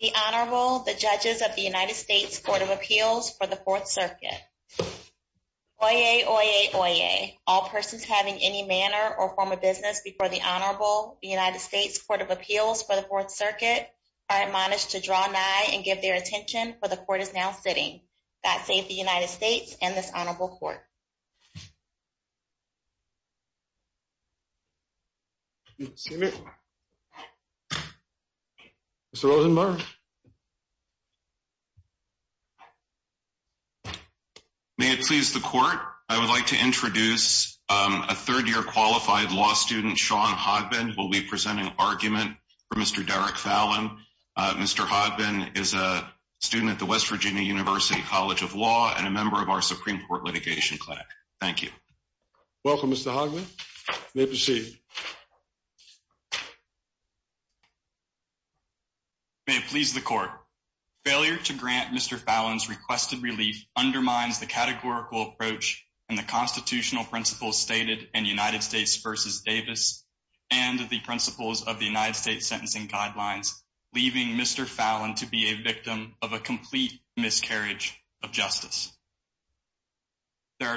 The Honorable, the Judges of the United States Court of Appeals for the 4th Circuit. Oyez, oyez, oyez, all persons having any manner or form of business before the Honorable, the United States Court of Appeals for the 4th Circuit, are admonished to draw nigh and give their attention, for the Court is now sitting. God save the United States and this Honorable Court. The Honorable, the Judges of the United States Court of Appeals for the 4th Circuit, are admonished to draw nigh and give their attention, for the Court is now sitting. The Honorable, the Judges of the United States Court of Appeals for the 4th Circuit, are admonished to draw nigh and give their attention, for the Court is now sitting. There are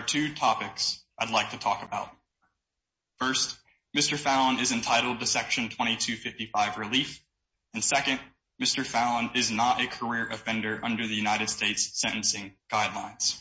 two topics I'd like to talk about. First, Mr. Fallin is entitled to Section 2255 relief. And second, Mr. Fallin is not a career offender under the United States sentencing guidelines.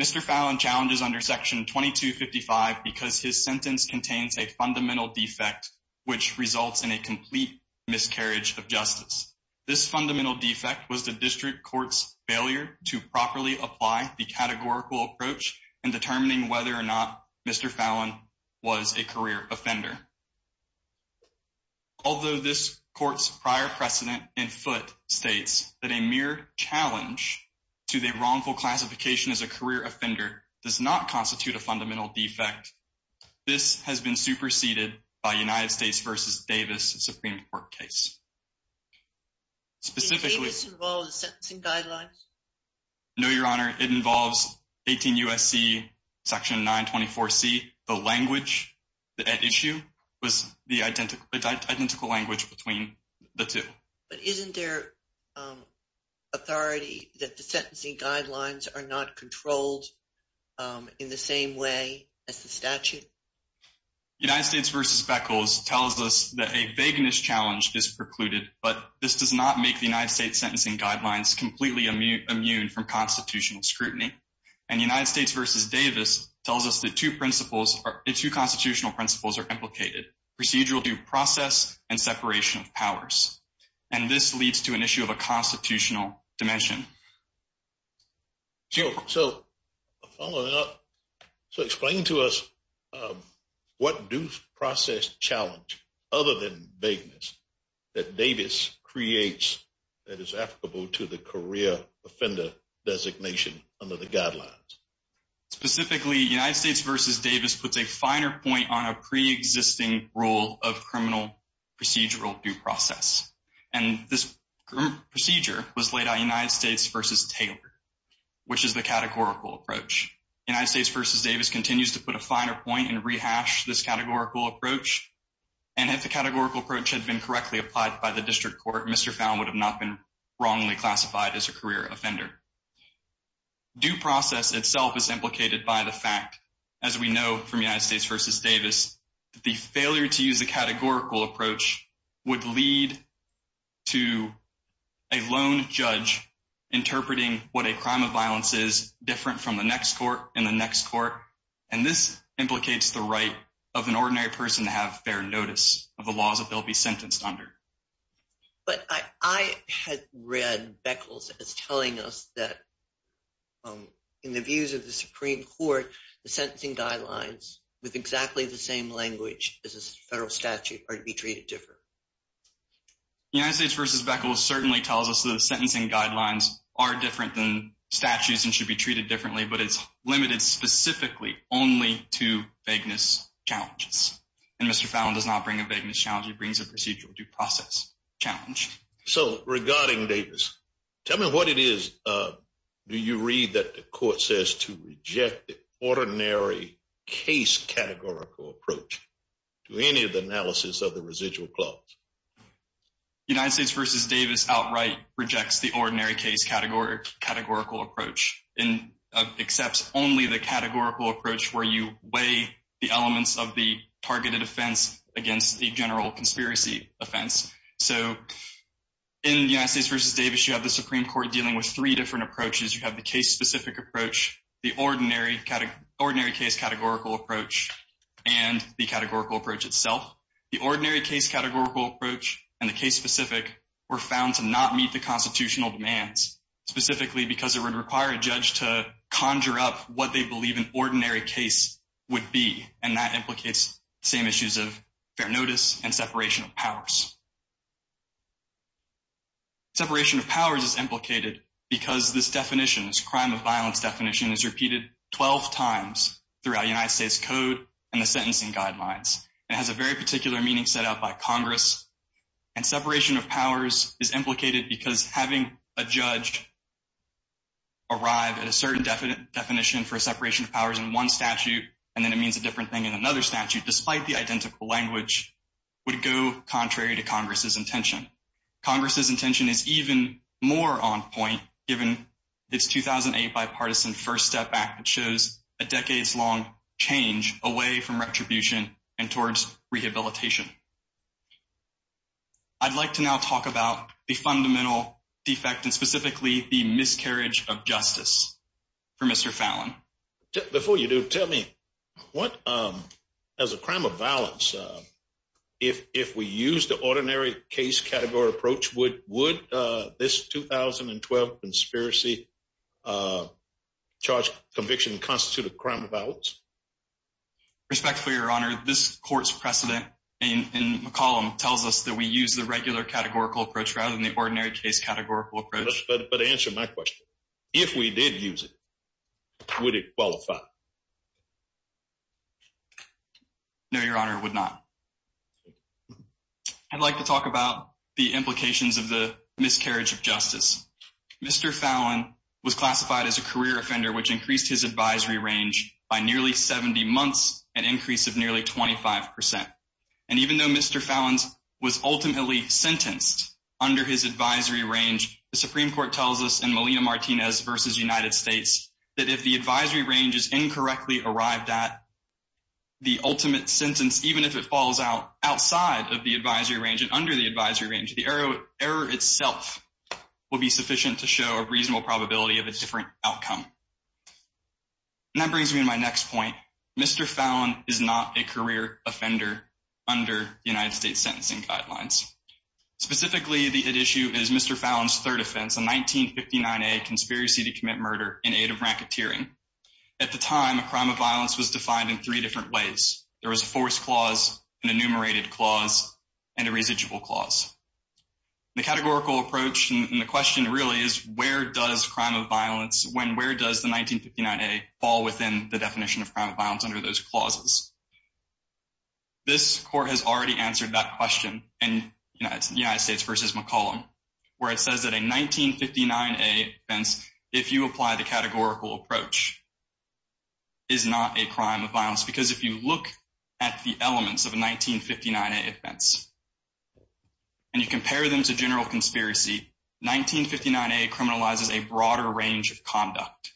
Mr. Fallin challenges under Section 2255 because his sentence contains a fundamental defect which results in a complete miscarriage of justice. This fundamental defect was the District Court's failure to properly apply the categorical approach in determining whether or not Mr. Fallin was a career offender. Although this Court's prior precedent in foot states that a mere challenge to the wrongful classification as a career offender does not constitute a fundamental defect, this has been superseded by a United States v. Davis Supreme Court case. Does Davis involve the sentencing guidelines? No, Your Honor. It involves 18 U.S.C. Section 924C. The language at issue was the identical language between the two. But isn't there authority that the sentencing guidelines are not controlled in the same way as the statute? United States v. Beckles tells us that a vagueness challenge is precluded, but this does not make the United States sentencing guidelines completely immune from constitutional scrutiny. And United States v. Davis tells us that two constitutional principles are implicated, procedural due process and separation of powers. And this leads to an issue of a constitutional dimension. So explain to us what due process challenge, other than vagueness, that Davis creates that is applicable to the career offender designation under the guidelines? Specifically, United States v. Davis puts a finer point on a preexisting rule of criminal procedural due process. And this procedure was laid out in United States v. Taylor, which is the categorical approach. United States v. Davis continues to put a finer point and rehash this categorical approach. And if the categorical approach had been correctly applied by the District Court, Mr. Fowle would have not been wrongly classified as a career offender. Due process itself is implicated by the fact, as we know from United States v. Davis, that the failure to use the categorical approach would lead to a lone judge interpreting what a crime of violence is different from the next court and the next court. And this implicates the right of an ordinary person to have fair notice of the laws that they'll be sentenced under. But I had read Beckles as telling us that, in the views of the Supreme Court, the sentencing guidelines, with exactly the same language as a federal statute, are to be treated differently. United States v. Beckles certainly tells us that the sentencing guidelines are different than statutes and should be treated differently, but it's limited specifically only to vagueness challenges. And Mr. Fowle does not bring a vagueness challenge, he brings a procedural due process challenge. So, regarding Davis, tell me what it is, do you read that the court says to reject the ordinary case categorical approach to any of the analysis of the residual clause? United States v. Davis outright rejects the ordinary case categorical approach and accepts only the categorical approach where you weigh the elements of the targeted offense against the general conspiracy offense. So, in United States v. Davis, you have the Supreme Court dealing with three different approaches. You have the case-specific approach, the ordinary case categorical approach, and the categorical approach itself. The ordinary case categorical approach and the case-specific were found to not meet the constitutional demands, specifically because it would require a judge to conjure up what they believe an ordinary case would be. And that implicates the same issues of fair notice and separation of powers. Separation of powers is implicated because this definition, this crime of violence definition, is repeated 12 times throughout United States code and the sentencing guidelines. It has a very particular meaning set out by Congress. And separation of powers is implicated because having a judge arrive at a certain definition for separation of powers in one statute and then it means a different thing in another statute, despite the identical language, would go contrary to Congress' intention. Congress' intention is even more on point given its 2008 bipartisan First Step Act that shows a decades-long change away from retribution and towards rehabilitation. I'd like to now talk about the fundamental defect and specifically the miscarriage of justice for Mr. Fallon. Before you do, tell me, as a crime of violence, if we use the ordinary case categorical approach, would this 2012 conspiracy charge conviction constitute a crime of violence? Respectfully, Your Honor, this court's precedent in McCollum tells us that we use the regular categorical approach rather than the ordinary case categorical approach. But answer my question. If we did use it? Would it qualify? No, Your Honor, it would not. I'd like to talk about the implications of the miscarriage of justice. Mr. Fallon was classified as a career offender, which increased his advisory range by nearly 70 months, an increase of nearly 25%. And even though Mr. Fallon was ultimately sentenced under his advisory range, the Supreme Court tells us in Molina-Martinez v. United States that if the advisory range is incorrectly arrived at, the ultimate sentence, even if it falls outside of the advisory range and under the advisory range, the error itself will be sufficient to show a reasonable probability of a different outcome. And that brings me to my next point. Mr. Fallon is not a career offender under United States sentencing guidelines. Specifically, the issue is Mr. Fallon's third offense, a 1959A conspiracy to commit murder in aid of racketeering. At the time, a crime of violence was defined in three different ways. There was a forced clause, an enumerated clause, and a residual clause. The categorical approach and the question really is where does crime of violence, when where does the 1959A fall within the definition of crime of violence under those clauses? This court has already answered that question in United States v. McClellan, where it says that a 1959A offense, if you apply the categorical approach, is not a crime of violence. Because if you look at the elements of a 1959A offense and you compare them to general conspiracy, 1959A criminalizes a broader range of conduct.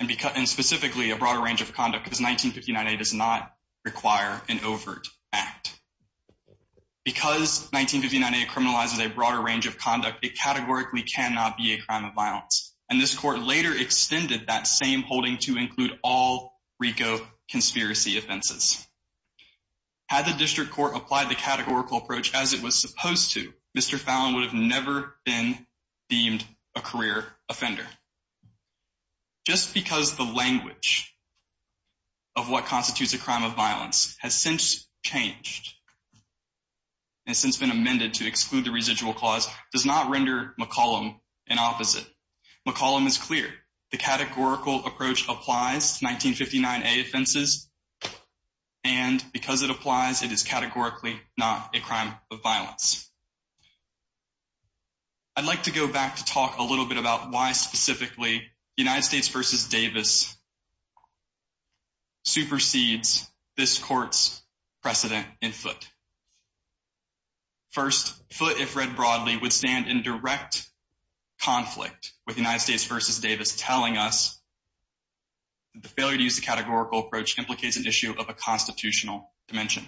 And specifically, a broader range of conduct because 1959A does not require an overt act. Because 1959A criminalizes a broader range of conduct, it categorically cannot be a crime of violence. And this court later extended that same holding to include all RICO conspiracy offenses. Had the district court applied the categorical approach as it was supposed to, Mr. Fallon would have never been deemed a career offender. Just because the language of what constitutes a crime of violence has since changed, has since been amended to exclude the residual clause, does not render McClellan an opposite. McClellan is clear. The categorical approach applies to 1959A offenses and because it applies, it is categorically not a crime of violence. I'd like to go back to talk a little bit about why specifically United States v. Davis supersedes this court's precedent in Foote. First, Foote, if read broadly, would stand in direct conflict with United States v. Davis telling us that the failure to use the categorical approach implicates an issue of a constitutional dimension.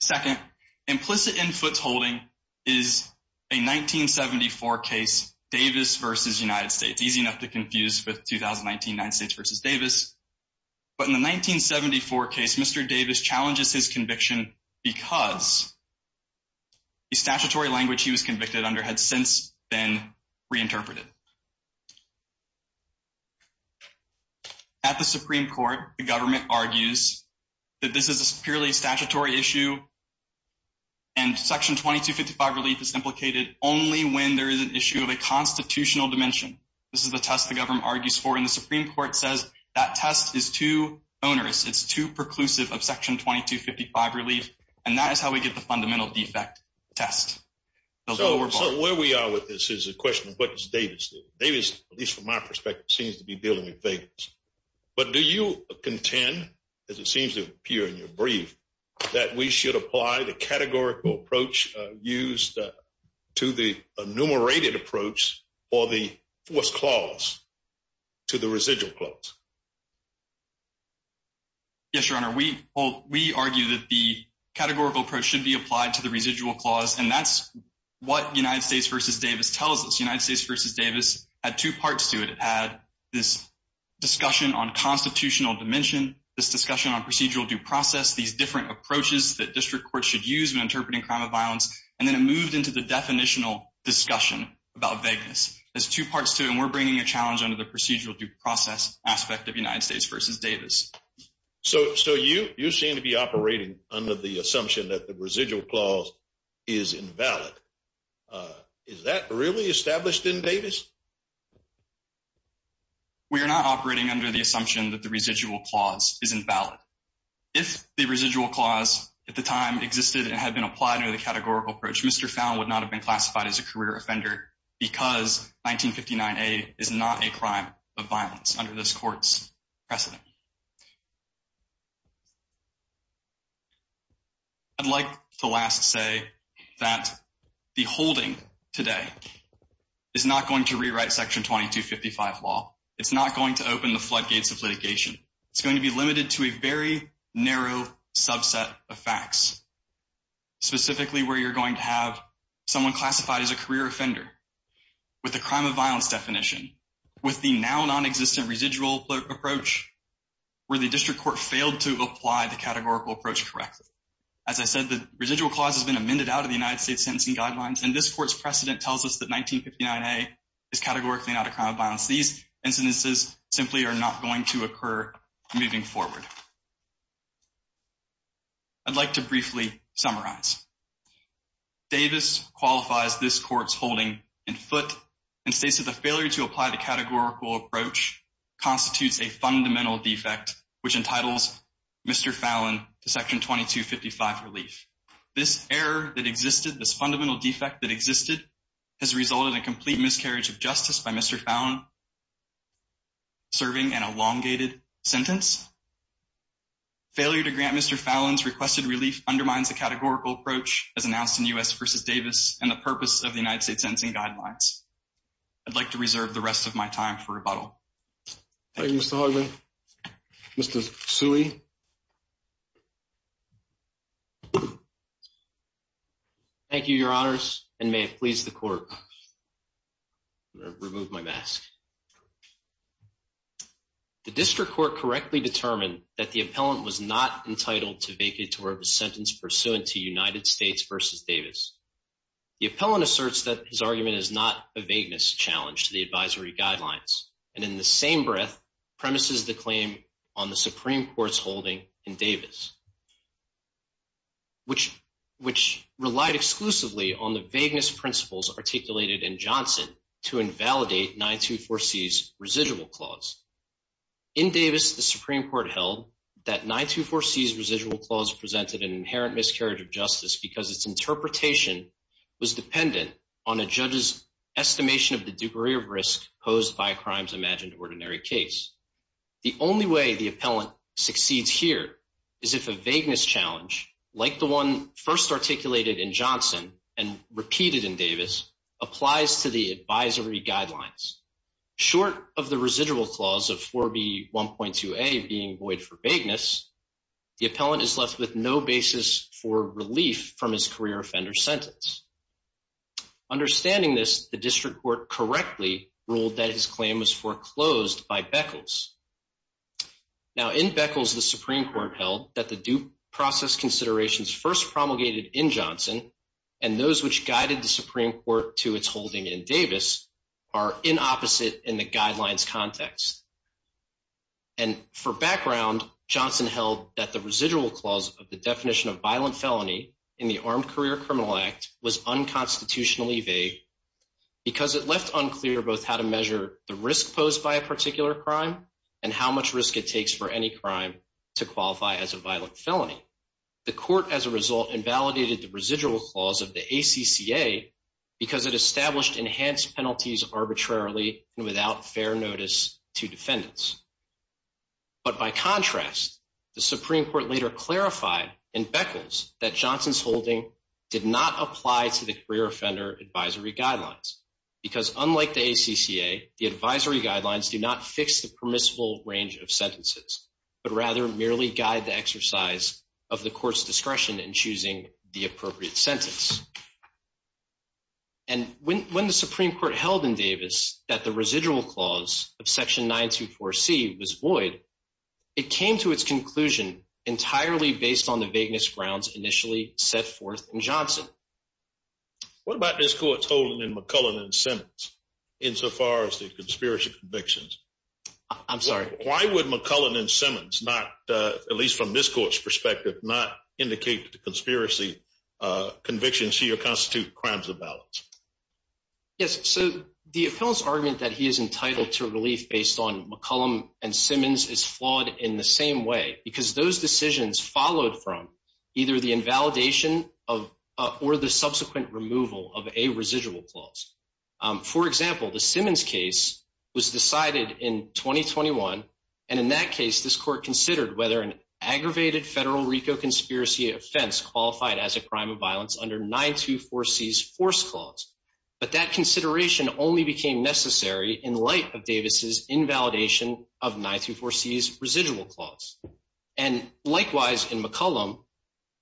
Second, implicit in Foote's holding is a 1974 case, Davis v. United States, easy enough to confuse with 2019 United States v. Davis. But in the 1974 case, Mr. Davis challenges his conviction because the statutory language he was convicted under had since been reinterpreted. At the Supreme Court, the government argues that this is a purely statutory issue and Section 2255 relief is implicated only when there is an issue of a constitutional dimension. This is the test the government argues for and the Supreme Court says that test is too onerous, it's too preclusive of Section 2255 relief and that is how we get the fundamental defect test. So where we are with this is a question of what does Davis do? Davis, at least from my perspective, seems to be dealing with Vegas. But do you contend, as it seems to appear in your brief, that we should apply the categorical approach used to the enumerated approach or the forced clause to the residual clause? Yes, Your Honor, we argue that the categorical approach should be applied to the residual clause and that's what United States v. Davis tells us. United States v. Davis had two parts to it. It had this discussion on constitutional dimension, this discussion on procedural due process, these different approaches that district courts should use when interpreting crime of violence. And then it moved into the definitional discussion about Vegas. There's two parts to it and we're bringing a challenge under the procedural due process aspect of United States v. Davis. So you seem to be operating under the assumption that the residual clause is invalid. Is that really established in Davis? We are not operating under the assumption that the residual clause is invalid. If the residual clause at the time existed and had been applied under the categorical approach, Mr. Fowne would not have been classified as a career offender because 1959A is not a crime of violence under this court's precedent. I'd like to last say that the holding today is not going to rewrite Section 2255 law. It's not going to open the floodgates of litigation. It's going to be limited to a very narrow subset of facts, specifically where you're going to have someone classified as a career offender with a crime of violence definition, with the now non-existent residual approach where the district court failed to apply the categorical approach correctly. As I said, the residual clause has been amended out of the United States Sentencing Guidelines and this court's precedent tells us that 1959A is categorically not a crime of violence. These incidences simply are not going to occur moving forward. I'd like to briefly summarize. Davis qualifies this court's holding in foot and states that the failure to apply the categorical approach constitutes a fundamental defect which entitles Mr. Fowne to Section 2255 relief. This error that existed, this fundamental defect that existed, has resulted in complete miscarriage of justice by Mr. Fowne serving an elongated sentence. Failure to grant Mr. Fowne's requested relief undermines the categorical approach as announced in U.S. v. Davis and the purpose of the United States Sentencing Guidelines. I'd like to reserve the rest of my time for rebuttal. Thank you, Mr. Hogman. Mr. Suey. Thank you, your honors, and may it please the court. I'm going to remove my mask. The district court correctly determined that the appellant was not entitled to vacate or have a sentence pursuant to United States v. Davis. The appellant asserts that his argument is not a vagueness challenge to the advisory guidelines and in the same breath premises the claim on the Supreme Court's holding in Davis, which relied exclusively on the vagueness principles articulated in Johnson to invalidate 924C's residual clause. In Davis, the Supreme Court held that 924C's residual clause presented an inherent miscarriage of justice because its interpretation was dependent on a judge's estimation of the degree of risk posed by a crime's imagined ordinary case. The only way the appellant succeeds here is if a vagueness challenge, like the one first articulated in Johnson and repeated in Davis, applies to the advisory guidelines. Short of the residual clause of 4B1.2a being void for vagueness, the appellant is left with no basis for relief from his career offender sentence. Understanding this, the district court correctly ruled that his claim was foreclosed by Beckles. Now, in Beckles, the Supreme Court held that the due process considerations first promulgated in Johnson and those which guided the Supreme Court to its holding in Davis are inopposite in the guidelines context. And for background, Johnson held that the residual clause of the definition of violent felony in the Armed Career Criminal Act was unconstitutionally vague because it left unclear both how to measure the risk posed by a particular crime and how much risk it takes for any crime to qualify as a violent felony. The court, as a result, invalidated the residual clause of the ACCA because it established enhanced penalties arbitrarily and without fair notice to defendants. But by contrast, the Supreme Court later clarified in Beckles that Johnson's holding did not apply to the career offender advisory guidelines because unlike the ACCA, the advisory guidelines do not fix the permissible range of sentences, but rather merely guide the exercise of the court's discretion in choosing the appropriate sentence. And when the Supreme Court held in Davis that the residual clause of Section 924C was void, it came to its conclusion entirely based on the vagueness grounds initially set forth in Johnson. What about this court's holding in McCullum and Simmons insofar as the conspiracy convictions? I'm sorry. Why would McCullum and Simmons not, at least from this court's perspective, not indicate that the conspiracy convictions here constitute crimes of violence? Yes, so the appellant's argument that he is entitled to relief based on McCullum and Simmons is flawed in the same way because those decisions followed from either the invalidation or the subsequent removal of a residual clause. For example, the Simmons case was decided in 2021, and in that case, this court considered whether an aggravated federal RICO conspiracy offense qualified as a crime of violence under 924C's forced clause. But that consideration only became necessary in light of Davis's invalidation of 924C's residual clause. And likewise, in McCullum,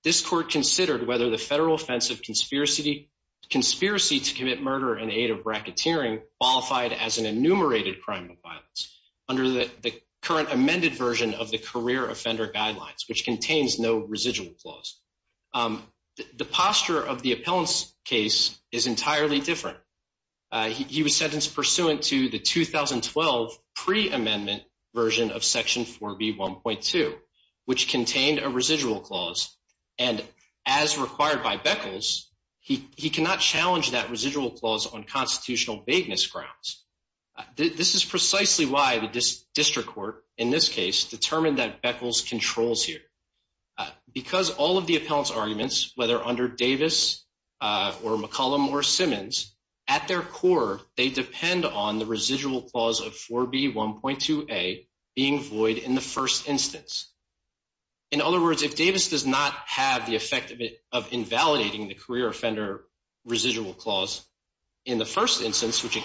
this court considered whether the federal offense of conspiracy to commit murder in aid of bracketeering qualified as an enumerated crime of violence under the current amended version of the career offender guidelines, which contains no residual clause. The posture of the appellant's case is entirely different. He was sentenced pursuant to the 2012 pre-amendment version of Section 4B1.2, which contained a residual clause, and as required by Beckles, he cannot challenge that residual clause on constitutional vagueness grounds. This is precisely why the district court, in this case, determined that Beckles controls here. Because all of the appellant's arguments, whether under Davis or McCullum or Simmons, at their core, they depend on the residual clause of 4B1.2A being void in the first instance. In other words, if Davis does not have the effect of invalidating the career offender residual clause in the first instance, which it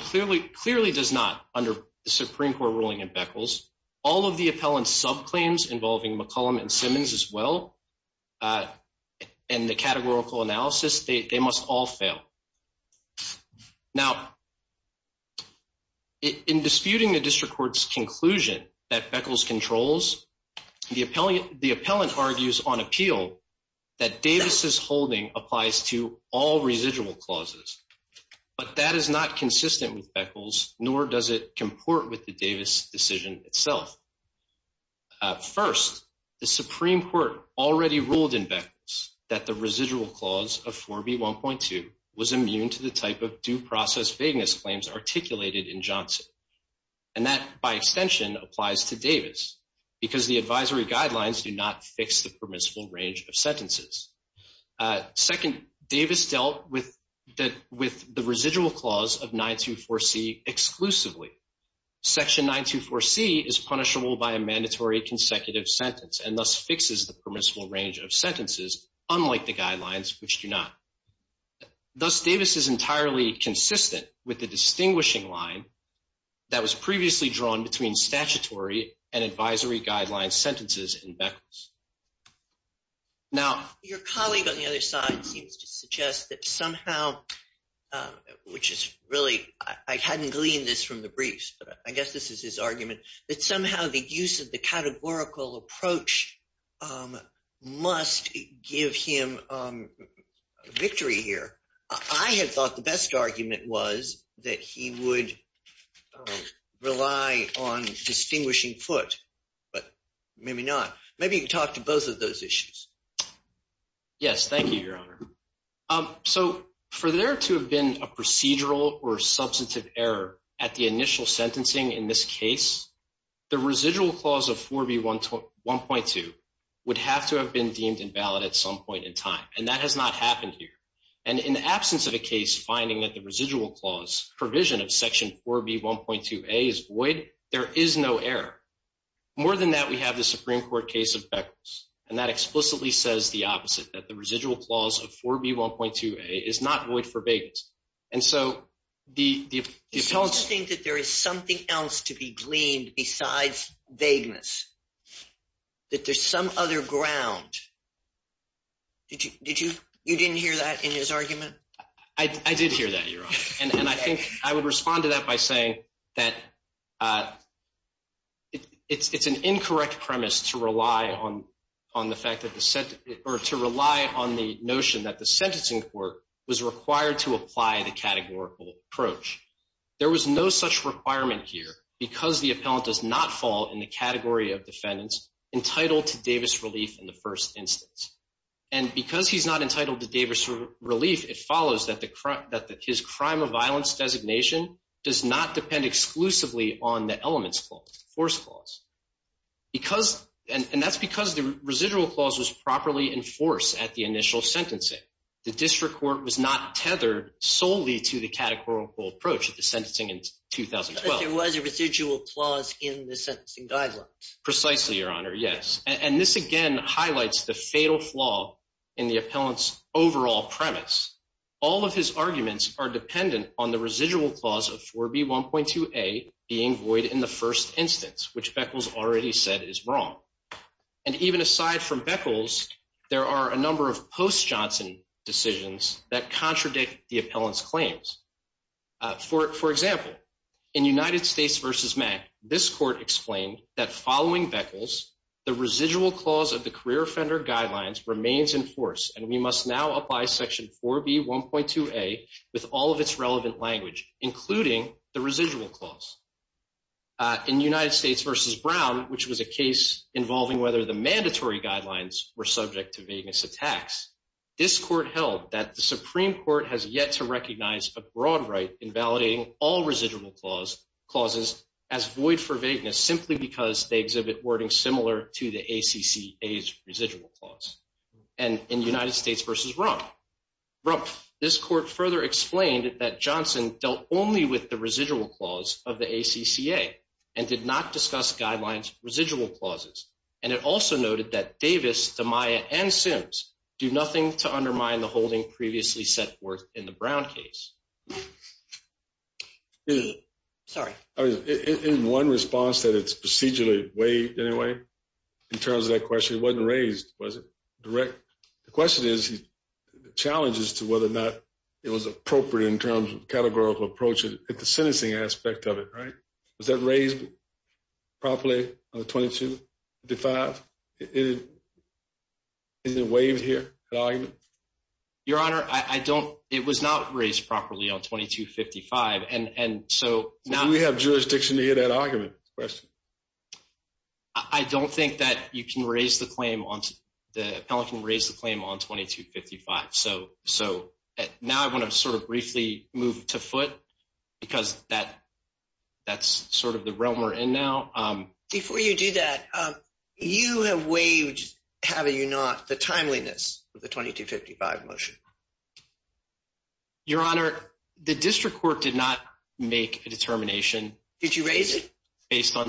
clearly does not under the Supreme Court ruling in Beckles, all of the appellant's subclaims involving McCullum and Simmons as well, and the categorical analysis, they must all fail. Now, in disputing the district court's conclusion that Beckles controls, the appellant argues on appeal that Davis' holding applies to all residual clauses, but that is not consistent with Beckles, nor does it comport with the Davis decision itself. First, the Supreme Court already ruled in Beckles that the residual clause of 4B1.2 was immune to the type of due process vagueness claims articulated in Johnson, and that, by extension, applies to Davis, because the advisory guidelines do not fix the permissible range of sentences. Second, Davis dealt with the residual clause of 924C exclusively. Section 924C is punishable by a mandatory consecutive sentence, and thus fixes the permissible range of sentences, unlike the guidelines, which do not. Thus, Davis is entirely consistent with the distinguishing line that was previously drawn between statutory and advisory guideline sentences in Beckles. Now, your colleague on the other side seems to suggest that somehow, which is really, I hadn't gleaned this from the briefs, but I guess this is his argument, that somehow the use of the categorical approach must give him victory here. I had thought the best argument was that he would rely on distinguishing foot, but maybe not. Maybe you can talk to both of those issues. Yes, thank you, Your Honor. So, for there to have been a procedural or substantive error at the initial sentencing in this case, the residual clause of 4B1.2 would have to have been deemed invalid at some point in time, and that has not happened here. And in the absence of a case finding that the residual clause provision of Section 4B1.2a is void, there is no error. More than that, we have the Supreme Court case of Beckles, and that explicitly says the opposite, that the residual clause of 4B1.2a is not void for vagueness. It's interesting that there is something else to be gleaned besides vagueness, that there's some other ground. Did you – you didn't hear that in his argument? I did hear that, Your Honor, and I think I would respond to that by saying that it's an incorrect premise to rely on the fact that the – or to rely on the notion that the sentencing court was required to apply the categorical approach. There was no such requirement here because the appellant does not fall in the category of defendants entitled to Davis relief in the first instance. And because he's not entitled to Davis relief, it follows that the – that his crime of violence designation does not depend exclusively on the elements clause, the force clause. Because – and that's because the residual clause was properly enforced at the initial sentencing. The district court was not tethered solely to the categorical approach at the sentencing in 2012. But there was a residual clause in the sentencing guidelines. Precisely, Your Honor, yes. And this again highlights the fatal flaw in the appellant's overall premise. All of his arguments are dependent on the residual clause of 4B1.2a being void in the first instance, which Beckles already said is wrong. And even aside from Beckles, there are a number of post-Johnson decisions that contradict the appellant's claims. For example, in United States v. Mack, this court explained that following Beckles, the residual clause of the career offender guidelines remains in force and we must now apply Section 4B1.2a with all of its relevant language, including the residual clause. In United States v. Brown, which was a case involving whether the mandatory guidelines were subject to vagueness attacks, this court held that the Supreme Court has yet to recognize a broad right in validating all residual clauses as void for vagueness simply because they exhibit wording similar to the ACCA's residual clause. And in United States v. Rumpf, this court further explained that Johnson dealt only with the residual clause of the ACCA and did not discuss guidelines' residual clauses. And it also noted that Davis, Damiah, and Sims do nothing to undermine the holding previously set forth in the Brown case. Sorry. In one response that it's procedurally waived anyway, in terms of that question, it wasn't raised, was it? The question is, the challenge is to whether or not it was appropriate in terms of categorical approach at the sentencing aspect of it, right? Was that raised properly on the 2255? Is it waived here, that argument? Your Honor, it was not raised properly on 2255. Do we have jurisdiction to hear that argument? I don't think that you can raise the claim, the appellant can raise the claim on 2255. So now I want to sort of briefly move to foot because that's sort of the realm we're in now. Before you do that, you have waived, have you not, the timeliness of the 2255 motion? Your Honor, the district court did not make a determination. Did you raise it? All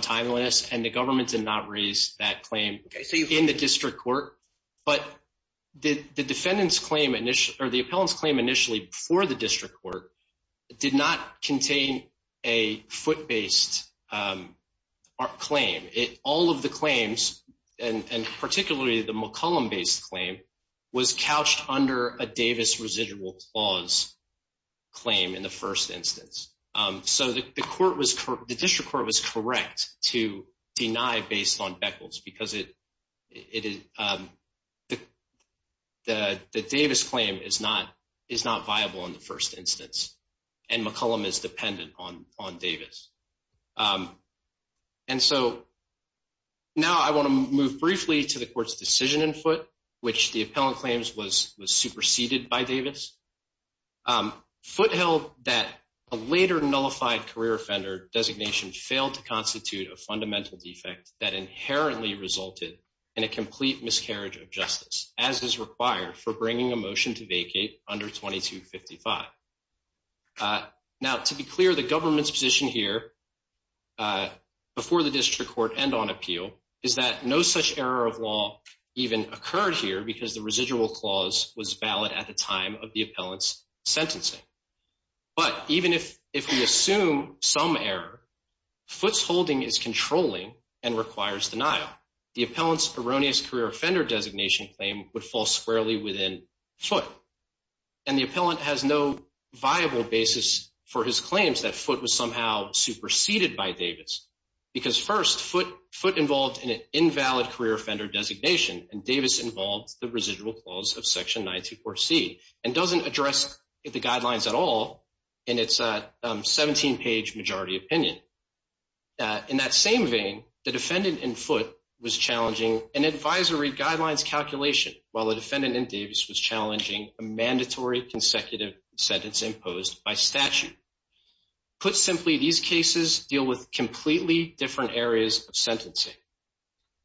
of the claims, and particularly the McCollum-based claim, was couched under a Davis residual clause claim in the first instance. So the district court was correct to deny based on Beckles because the Davis claim is not viable in the first instance and McCollum is dependent on Davis. And so now I want to move briefly to the court's decision in foot, which the appellant claims was superseded by Davis. Foot held that a later nullified career offender designation failed to constitute a fundamental defect that inherently resulted in a complete miscarriage of justice, as is required for bringing a motion to vacate under 2255. Now, to be clear, the government's position here before the district court and on appeal is that no such error of law even occurred here because the residual clause was valid at the time of the appellant's sentencing. But even if we assume some error, foot's holding is controlling and requires denial. The appellant's erroneous career offender designation claim would fall squarely within foot. And the appellant has no viable basis for his claims that foot was somehow superseded by Davis. Because first, foot involved in an invalid career offender designation and Davis involved the residual clause of section 94C and doesn't address the guidelines at all in its 17-page majority opinion. In that same vein, the defendant in foot was challenging an advisory guidelines calculation while the defendant in Davis was challenging a mandatory consecutive sentence imposed by statute. Put simply, these cases deal with completely different areas of sentencing.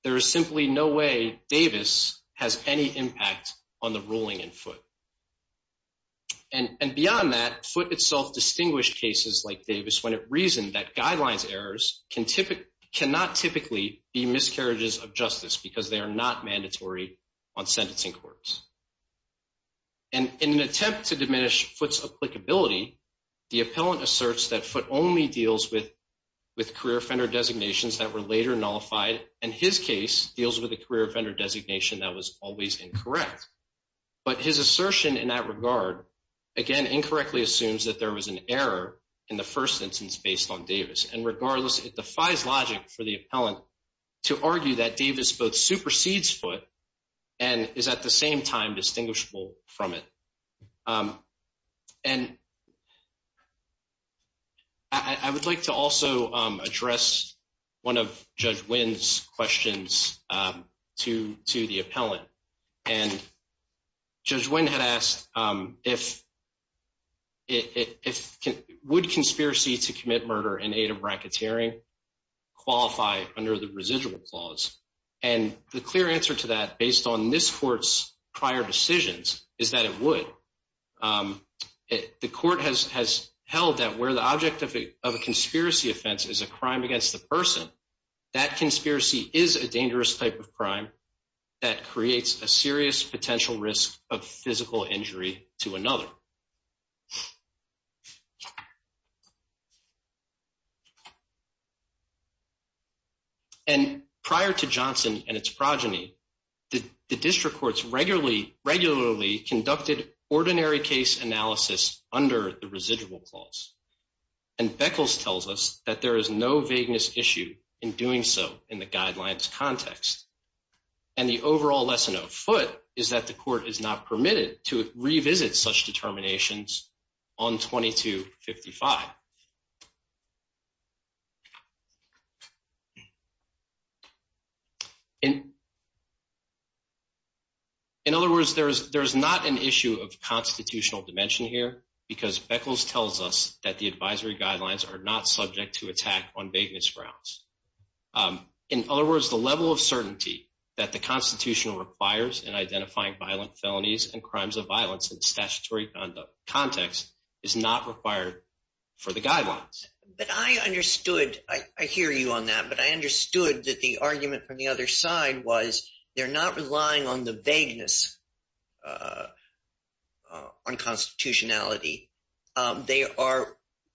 There is simply no way Davis has any impact on the ruling in foot. And beyond that, foot itself distinguished cases like Davis when it reasoned that guidelines errors cannot typically be miscarriages of justice because they are not mandatory on sentencing courts. And in an attempt to diminish foot's applicability, the appellant asserts that foot only deals with career offender designations that were later nullified and his case deals with a career offender designation that was always incorrect. But his assertion in that regard, again, incorrectly assumes that there was an error in the first instance based on Davis. And regardless, it defies logic for the appellant to argue that Davis both supersedes foot and is at the same time distinguishable from it. And I would like to also address one of Judge Wynn's questions to the appellant. And Judge Wynn had asked, would conspiracy to commit murder in aid of bracketeering qualify under the residual clause? And the clear answer to that, based on this court's prior decisions, is that it would. The court has held that where the object of a conspiracy offense is a crime against the person, that conspiracy is a dangerous type of crime that creates a serious potential risk of physical injury to another. And prior to Johnson and its progeny, the district courts regularly conducted ordinary case analysis under the residual clause. And Beckles tells us that there is no vagueness issue in doing so in the guidelines context. And the overall lesson afoot is that the court is not permitted to revisit such determinations on 2255. In other words, there is not an issue of constitutional dimension here because Beckles tells us that the advisory guidelines are not subject to attack on vagueness grounds. In other words, the level of certainty that the Constitution requires in identifying violent felonies and crimes of violence in statutory context is not required for the guidelines. But I understood. I hear you on that. But I understood that the argument from the other side was they're not relying on the vagueness on constitutionality. They are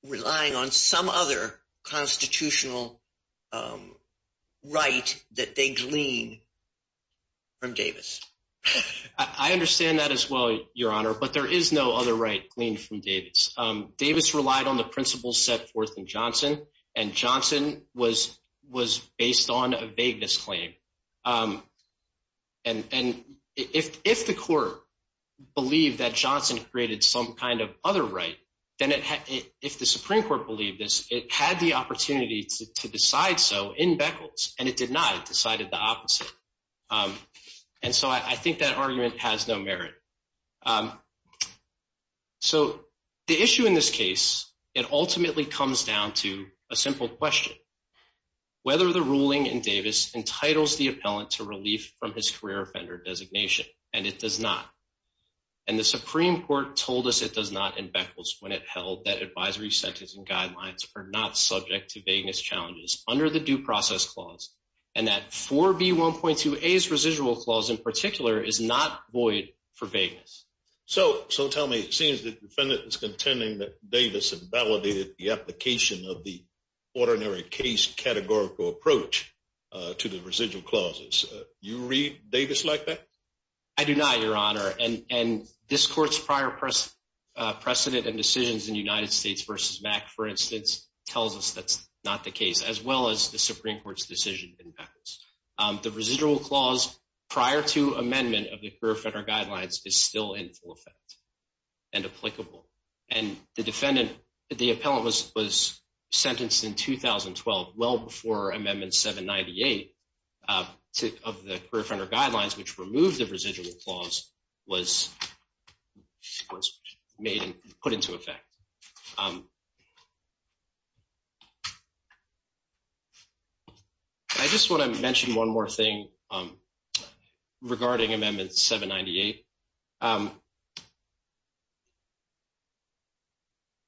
relying on some other constitutional right that they glean from Davis. I understand that as well, Your Honor. But there is no other right gleaned from Davis. Davis relied on the principles set forth in Johnson. And Johnson was based on a vagueness claim. And if the court believed that Johnson created some kind of other right, then if the Supreme Court believed this, it had the opportunity to decide so in Beckles. And it did not. It decided the opposite. And so I think that argument has no merit. So the issue in this case, it ultimately comes down to a simple question. Whether the ruling in Davis entitles the appellant to relief from his career offender designation, and it does not. And the Supreme Court told us it does not in Beckles when it held that advisory sentencing guidelines are not subject to vagueness challenges under the due process clause. And that 4B1.2A's residual clause in particular is not void for vagueness. So tell me, it seems the defendant is contending that Davis invalidated the application of the ordinary case categorical approach to the residual clauses. You read Davis like that? I do not, Your Honor. And this court's prior precedent and decisions in United States v. Mack, for instance, tells us that's not the case, as well as the Supreme Court's decision in Beckles. The residual clause prior to amendment of the career offender guidelines is still in full effect and applicable. And the defendant, the appellant was sentenced in 2012, well before amendment 798 of the career offender guidelines, which removed the residual clause, was made and put into effect. I just want to mention one more thing regarding amendment 798.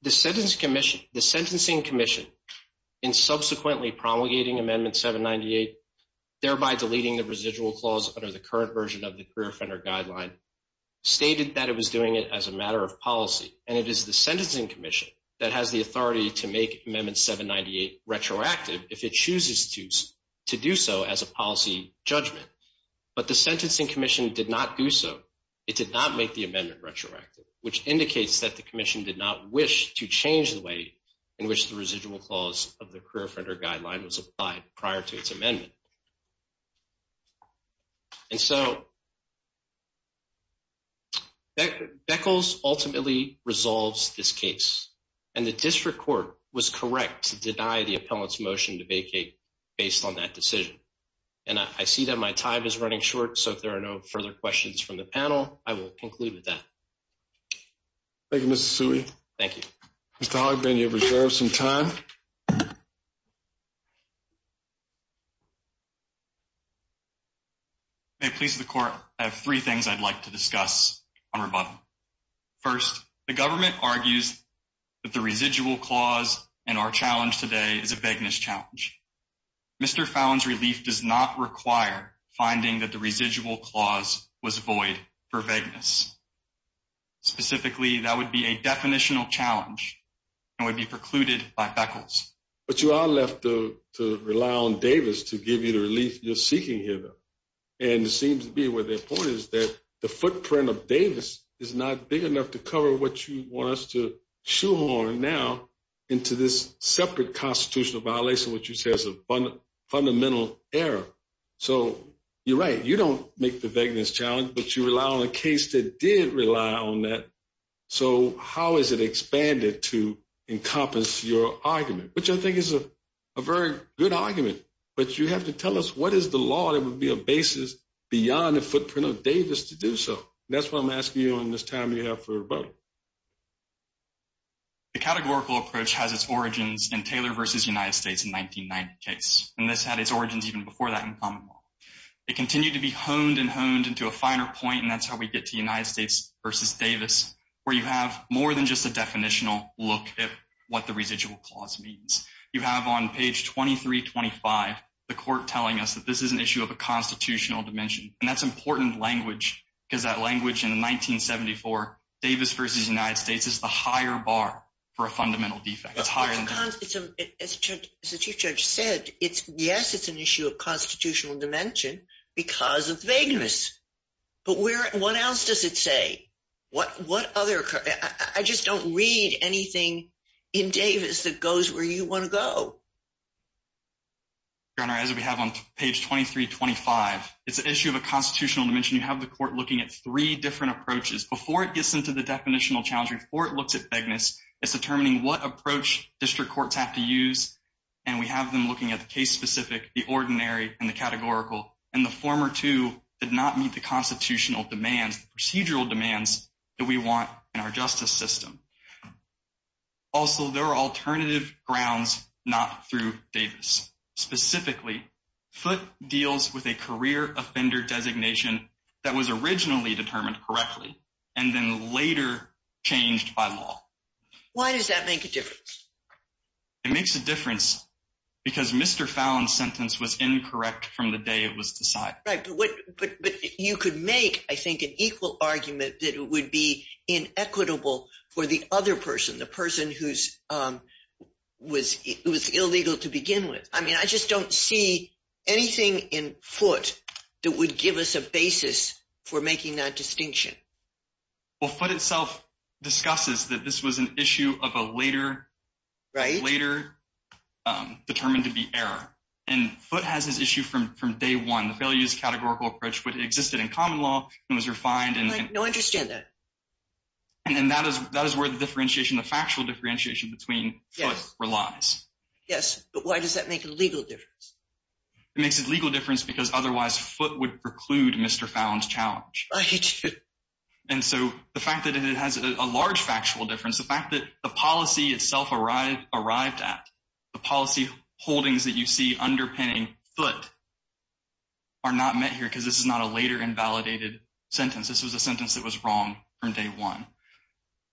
The sentencing commission in subsequently promulgating amendment 798, thereby deleting the residual clause under the current version of the career offender guideline, stated that it was doing it as a matter of policy. And it is the sentencing commission that has the authority to make amendment 798 retroactive if it chooses to do so as a policy judgment. But the sentencing commission did not do so. It did not make the amendment retroactive, which indicates that the commission did not wish to change the way in which the residual clause of the career offender guideline was applied prior to its amendment. And so Beckles ultimately resolves this case. And the district court was correct to deny the appellant's motion to vacate based on that decision. And I see that my time is running short, so if there are no further questions from the panel, I will conclude with that. Thank you, Mr. Suey. Thank you. Mr. Hoggman, you have reserved some time. May it please the court, I have three things I'd like to discuss on rebuttal. First, the government argues that the residual clause in our challenge today is a beggar's challenge. Mr. Fallon's relief does not require finding that the residual clause was void for vagueness. Specifically, that would be a definitional challenge and would be precluded by Beckles. But you are left to rely on Davis to give you the relief you're seeking here, though. And it seems to be where the point is that the footprint of Davis is not big enough to cover what you want us to shoehorn now into this separate constitutional violation, which you say is a fundamental error. So you're right, you don't make the beggar's challenge, but you rely on a case that did rely on that. So how is it expanded to encompass your argument, which I think is a very good argument. But you have to tell us what is the law that would be a basis beyond the footprint of Davis to do so. That's what I'm asking you on this time you have for a vote. The categorical approach has its origins in Taylor versus United States in 1990 case, and this had its origins even before that in common law. It continued to be honed and honed into a finer point, and that's how we get to United States versus Davis, where you have more than just a definitional look at what the residual clause means. You have on page 2325, the court telling us that this is an issue of a constitutional dimension, and that's important language, because that language in 1974 Davis versus United States is the higher bar for a fundamental defect. It's higher than as the chief judge said, it's yes, it's an issue of constitutional dimension because of vagueness. But what else does it say? I just don't read anything in Davis that goes where you want to go. Your Honor, as we have on page 2325, it's an issue of a constitutional dimension. You have the court looking at three different approaches. Before it gets into the definitional challenge, before it looks at vagueness, it's determining what approach district courts have to use, and we have them looking at the case-specific, the ordinary, and the categorical. And the former two did not meet the constitutional demands, procedural demands that we want in our justice system. Also, there are alternative grounds not through Davis. Specifically, Foote deals with a career offender designation that was originally determined correctly and then later changed by law. Why does that make a difference? It makes a difference because Mr. Fallon's sentence was incorrect from the day it was decided. Right, but you could make, I think, an equal argument that it would be inequitable for the other person, the person who was illegal to begin with. I mean, I just don't see anything in Foote that would give us a basis for making that distinction. Well, Foote itself discusses that this was an issue of a later, determined to be error. And Foote has this issue from day one. The failure to use a categorical approach existed in common law and was refined. I don't understand that. And that is where the differentiation, the factual differentiation between Foote relies. Yes, but why does that make a legal difference? It makes a legal difference because otherwise Foote would preclude Mr. Fallon's challenge. Right. And so the fact that it has a large factual difference, the fact that the policy itself arrived at, the policy holdings that you see underpinning Foote are not met here because this is not a later invalidated sentence. This was a sentence that was wrong from day one.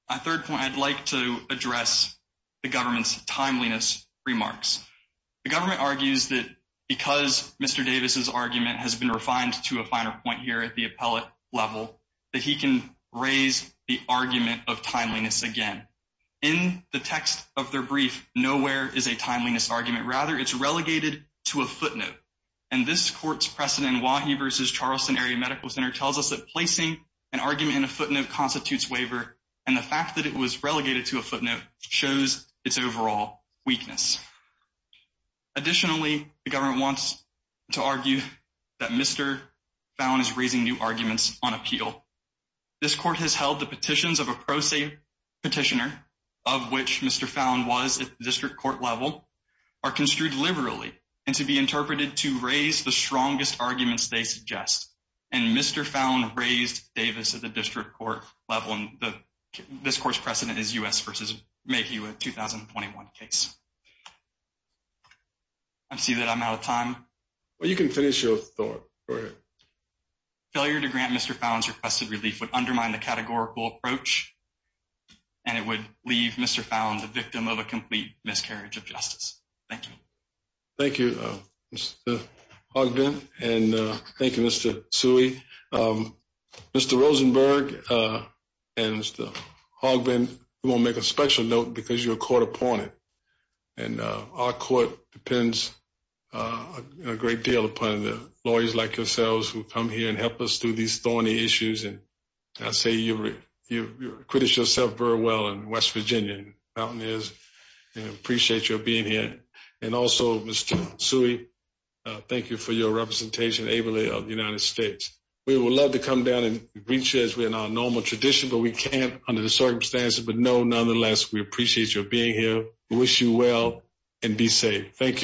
My third point, I'd like to address the government's timeliness remarks. The government argues that because Mr. Davis's argument has been refined to a finer point here at the appellate level, that he can raise the argument of timeliness again. In the text of their brief, nowhere is a timeliness argument. Rather, it's relegated to a footnote. And this court's precedent in Wahee v. Charleston Area Medical Center tells us that placing an argument in a footnote constitutes waiver. And the fact that it was relegated to a footnote shows its overall weakness. Additionally, the government wants to argue that Mr. Fallon is raising new arguments on appeal. This court has held the petitions of a pro se petitioner, of which Mr. Fallon was at the district court level, are construed liberally and to be interpreted to raise the strongest arguments they suggest. And Mr. Fallon raised Davis at the district court level. And this court's precedent is U.S. v. Mahew in a 2021 case. I see that I'm out of time. Well, you can finish your thought. Go ahead. Failure to grant Mr. Fallon's requested relief would undermine the categorical approach, and it would leave Mr. Fallon the victim of a complete miscarriage of justice. Thank you. Thank you, Mr. Ogden. And thank you, Mr. Tsui. Mr. Rosenberg and Mr. Ogden, we want to make a special note because you're a court opponent. And our court depends a great deal upon lawyers like yourselves who come here and help us through these thorny issues. And I say you've criticized yourself very well in West Virginia, and I appreciate your being here. And also, Mr. Tsui, thank you for your representation ably of the United States. We would love to come down and reach you as we're in our normal tradition, but we can't under the circumstances. But, no, nonetheless, we appreciate your being here. We wish you well and be safe. Thank you.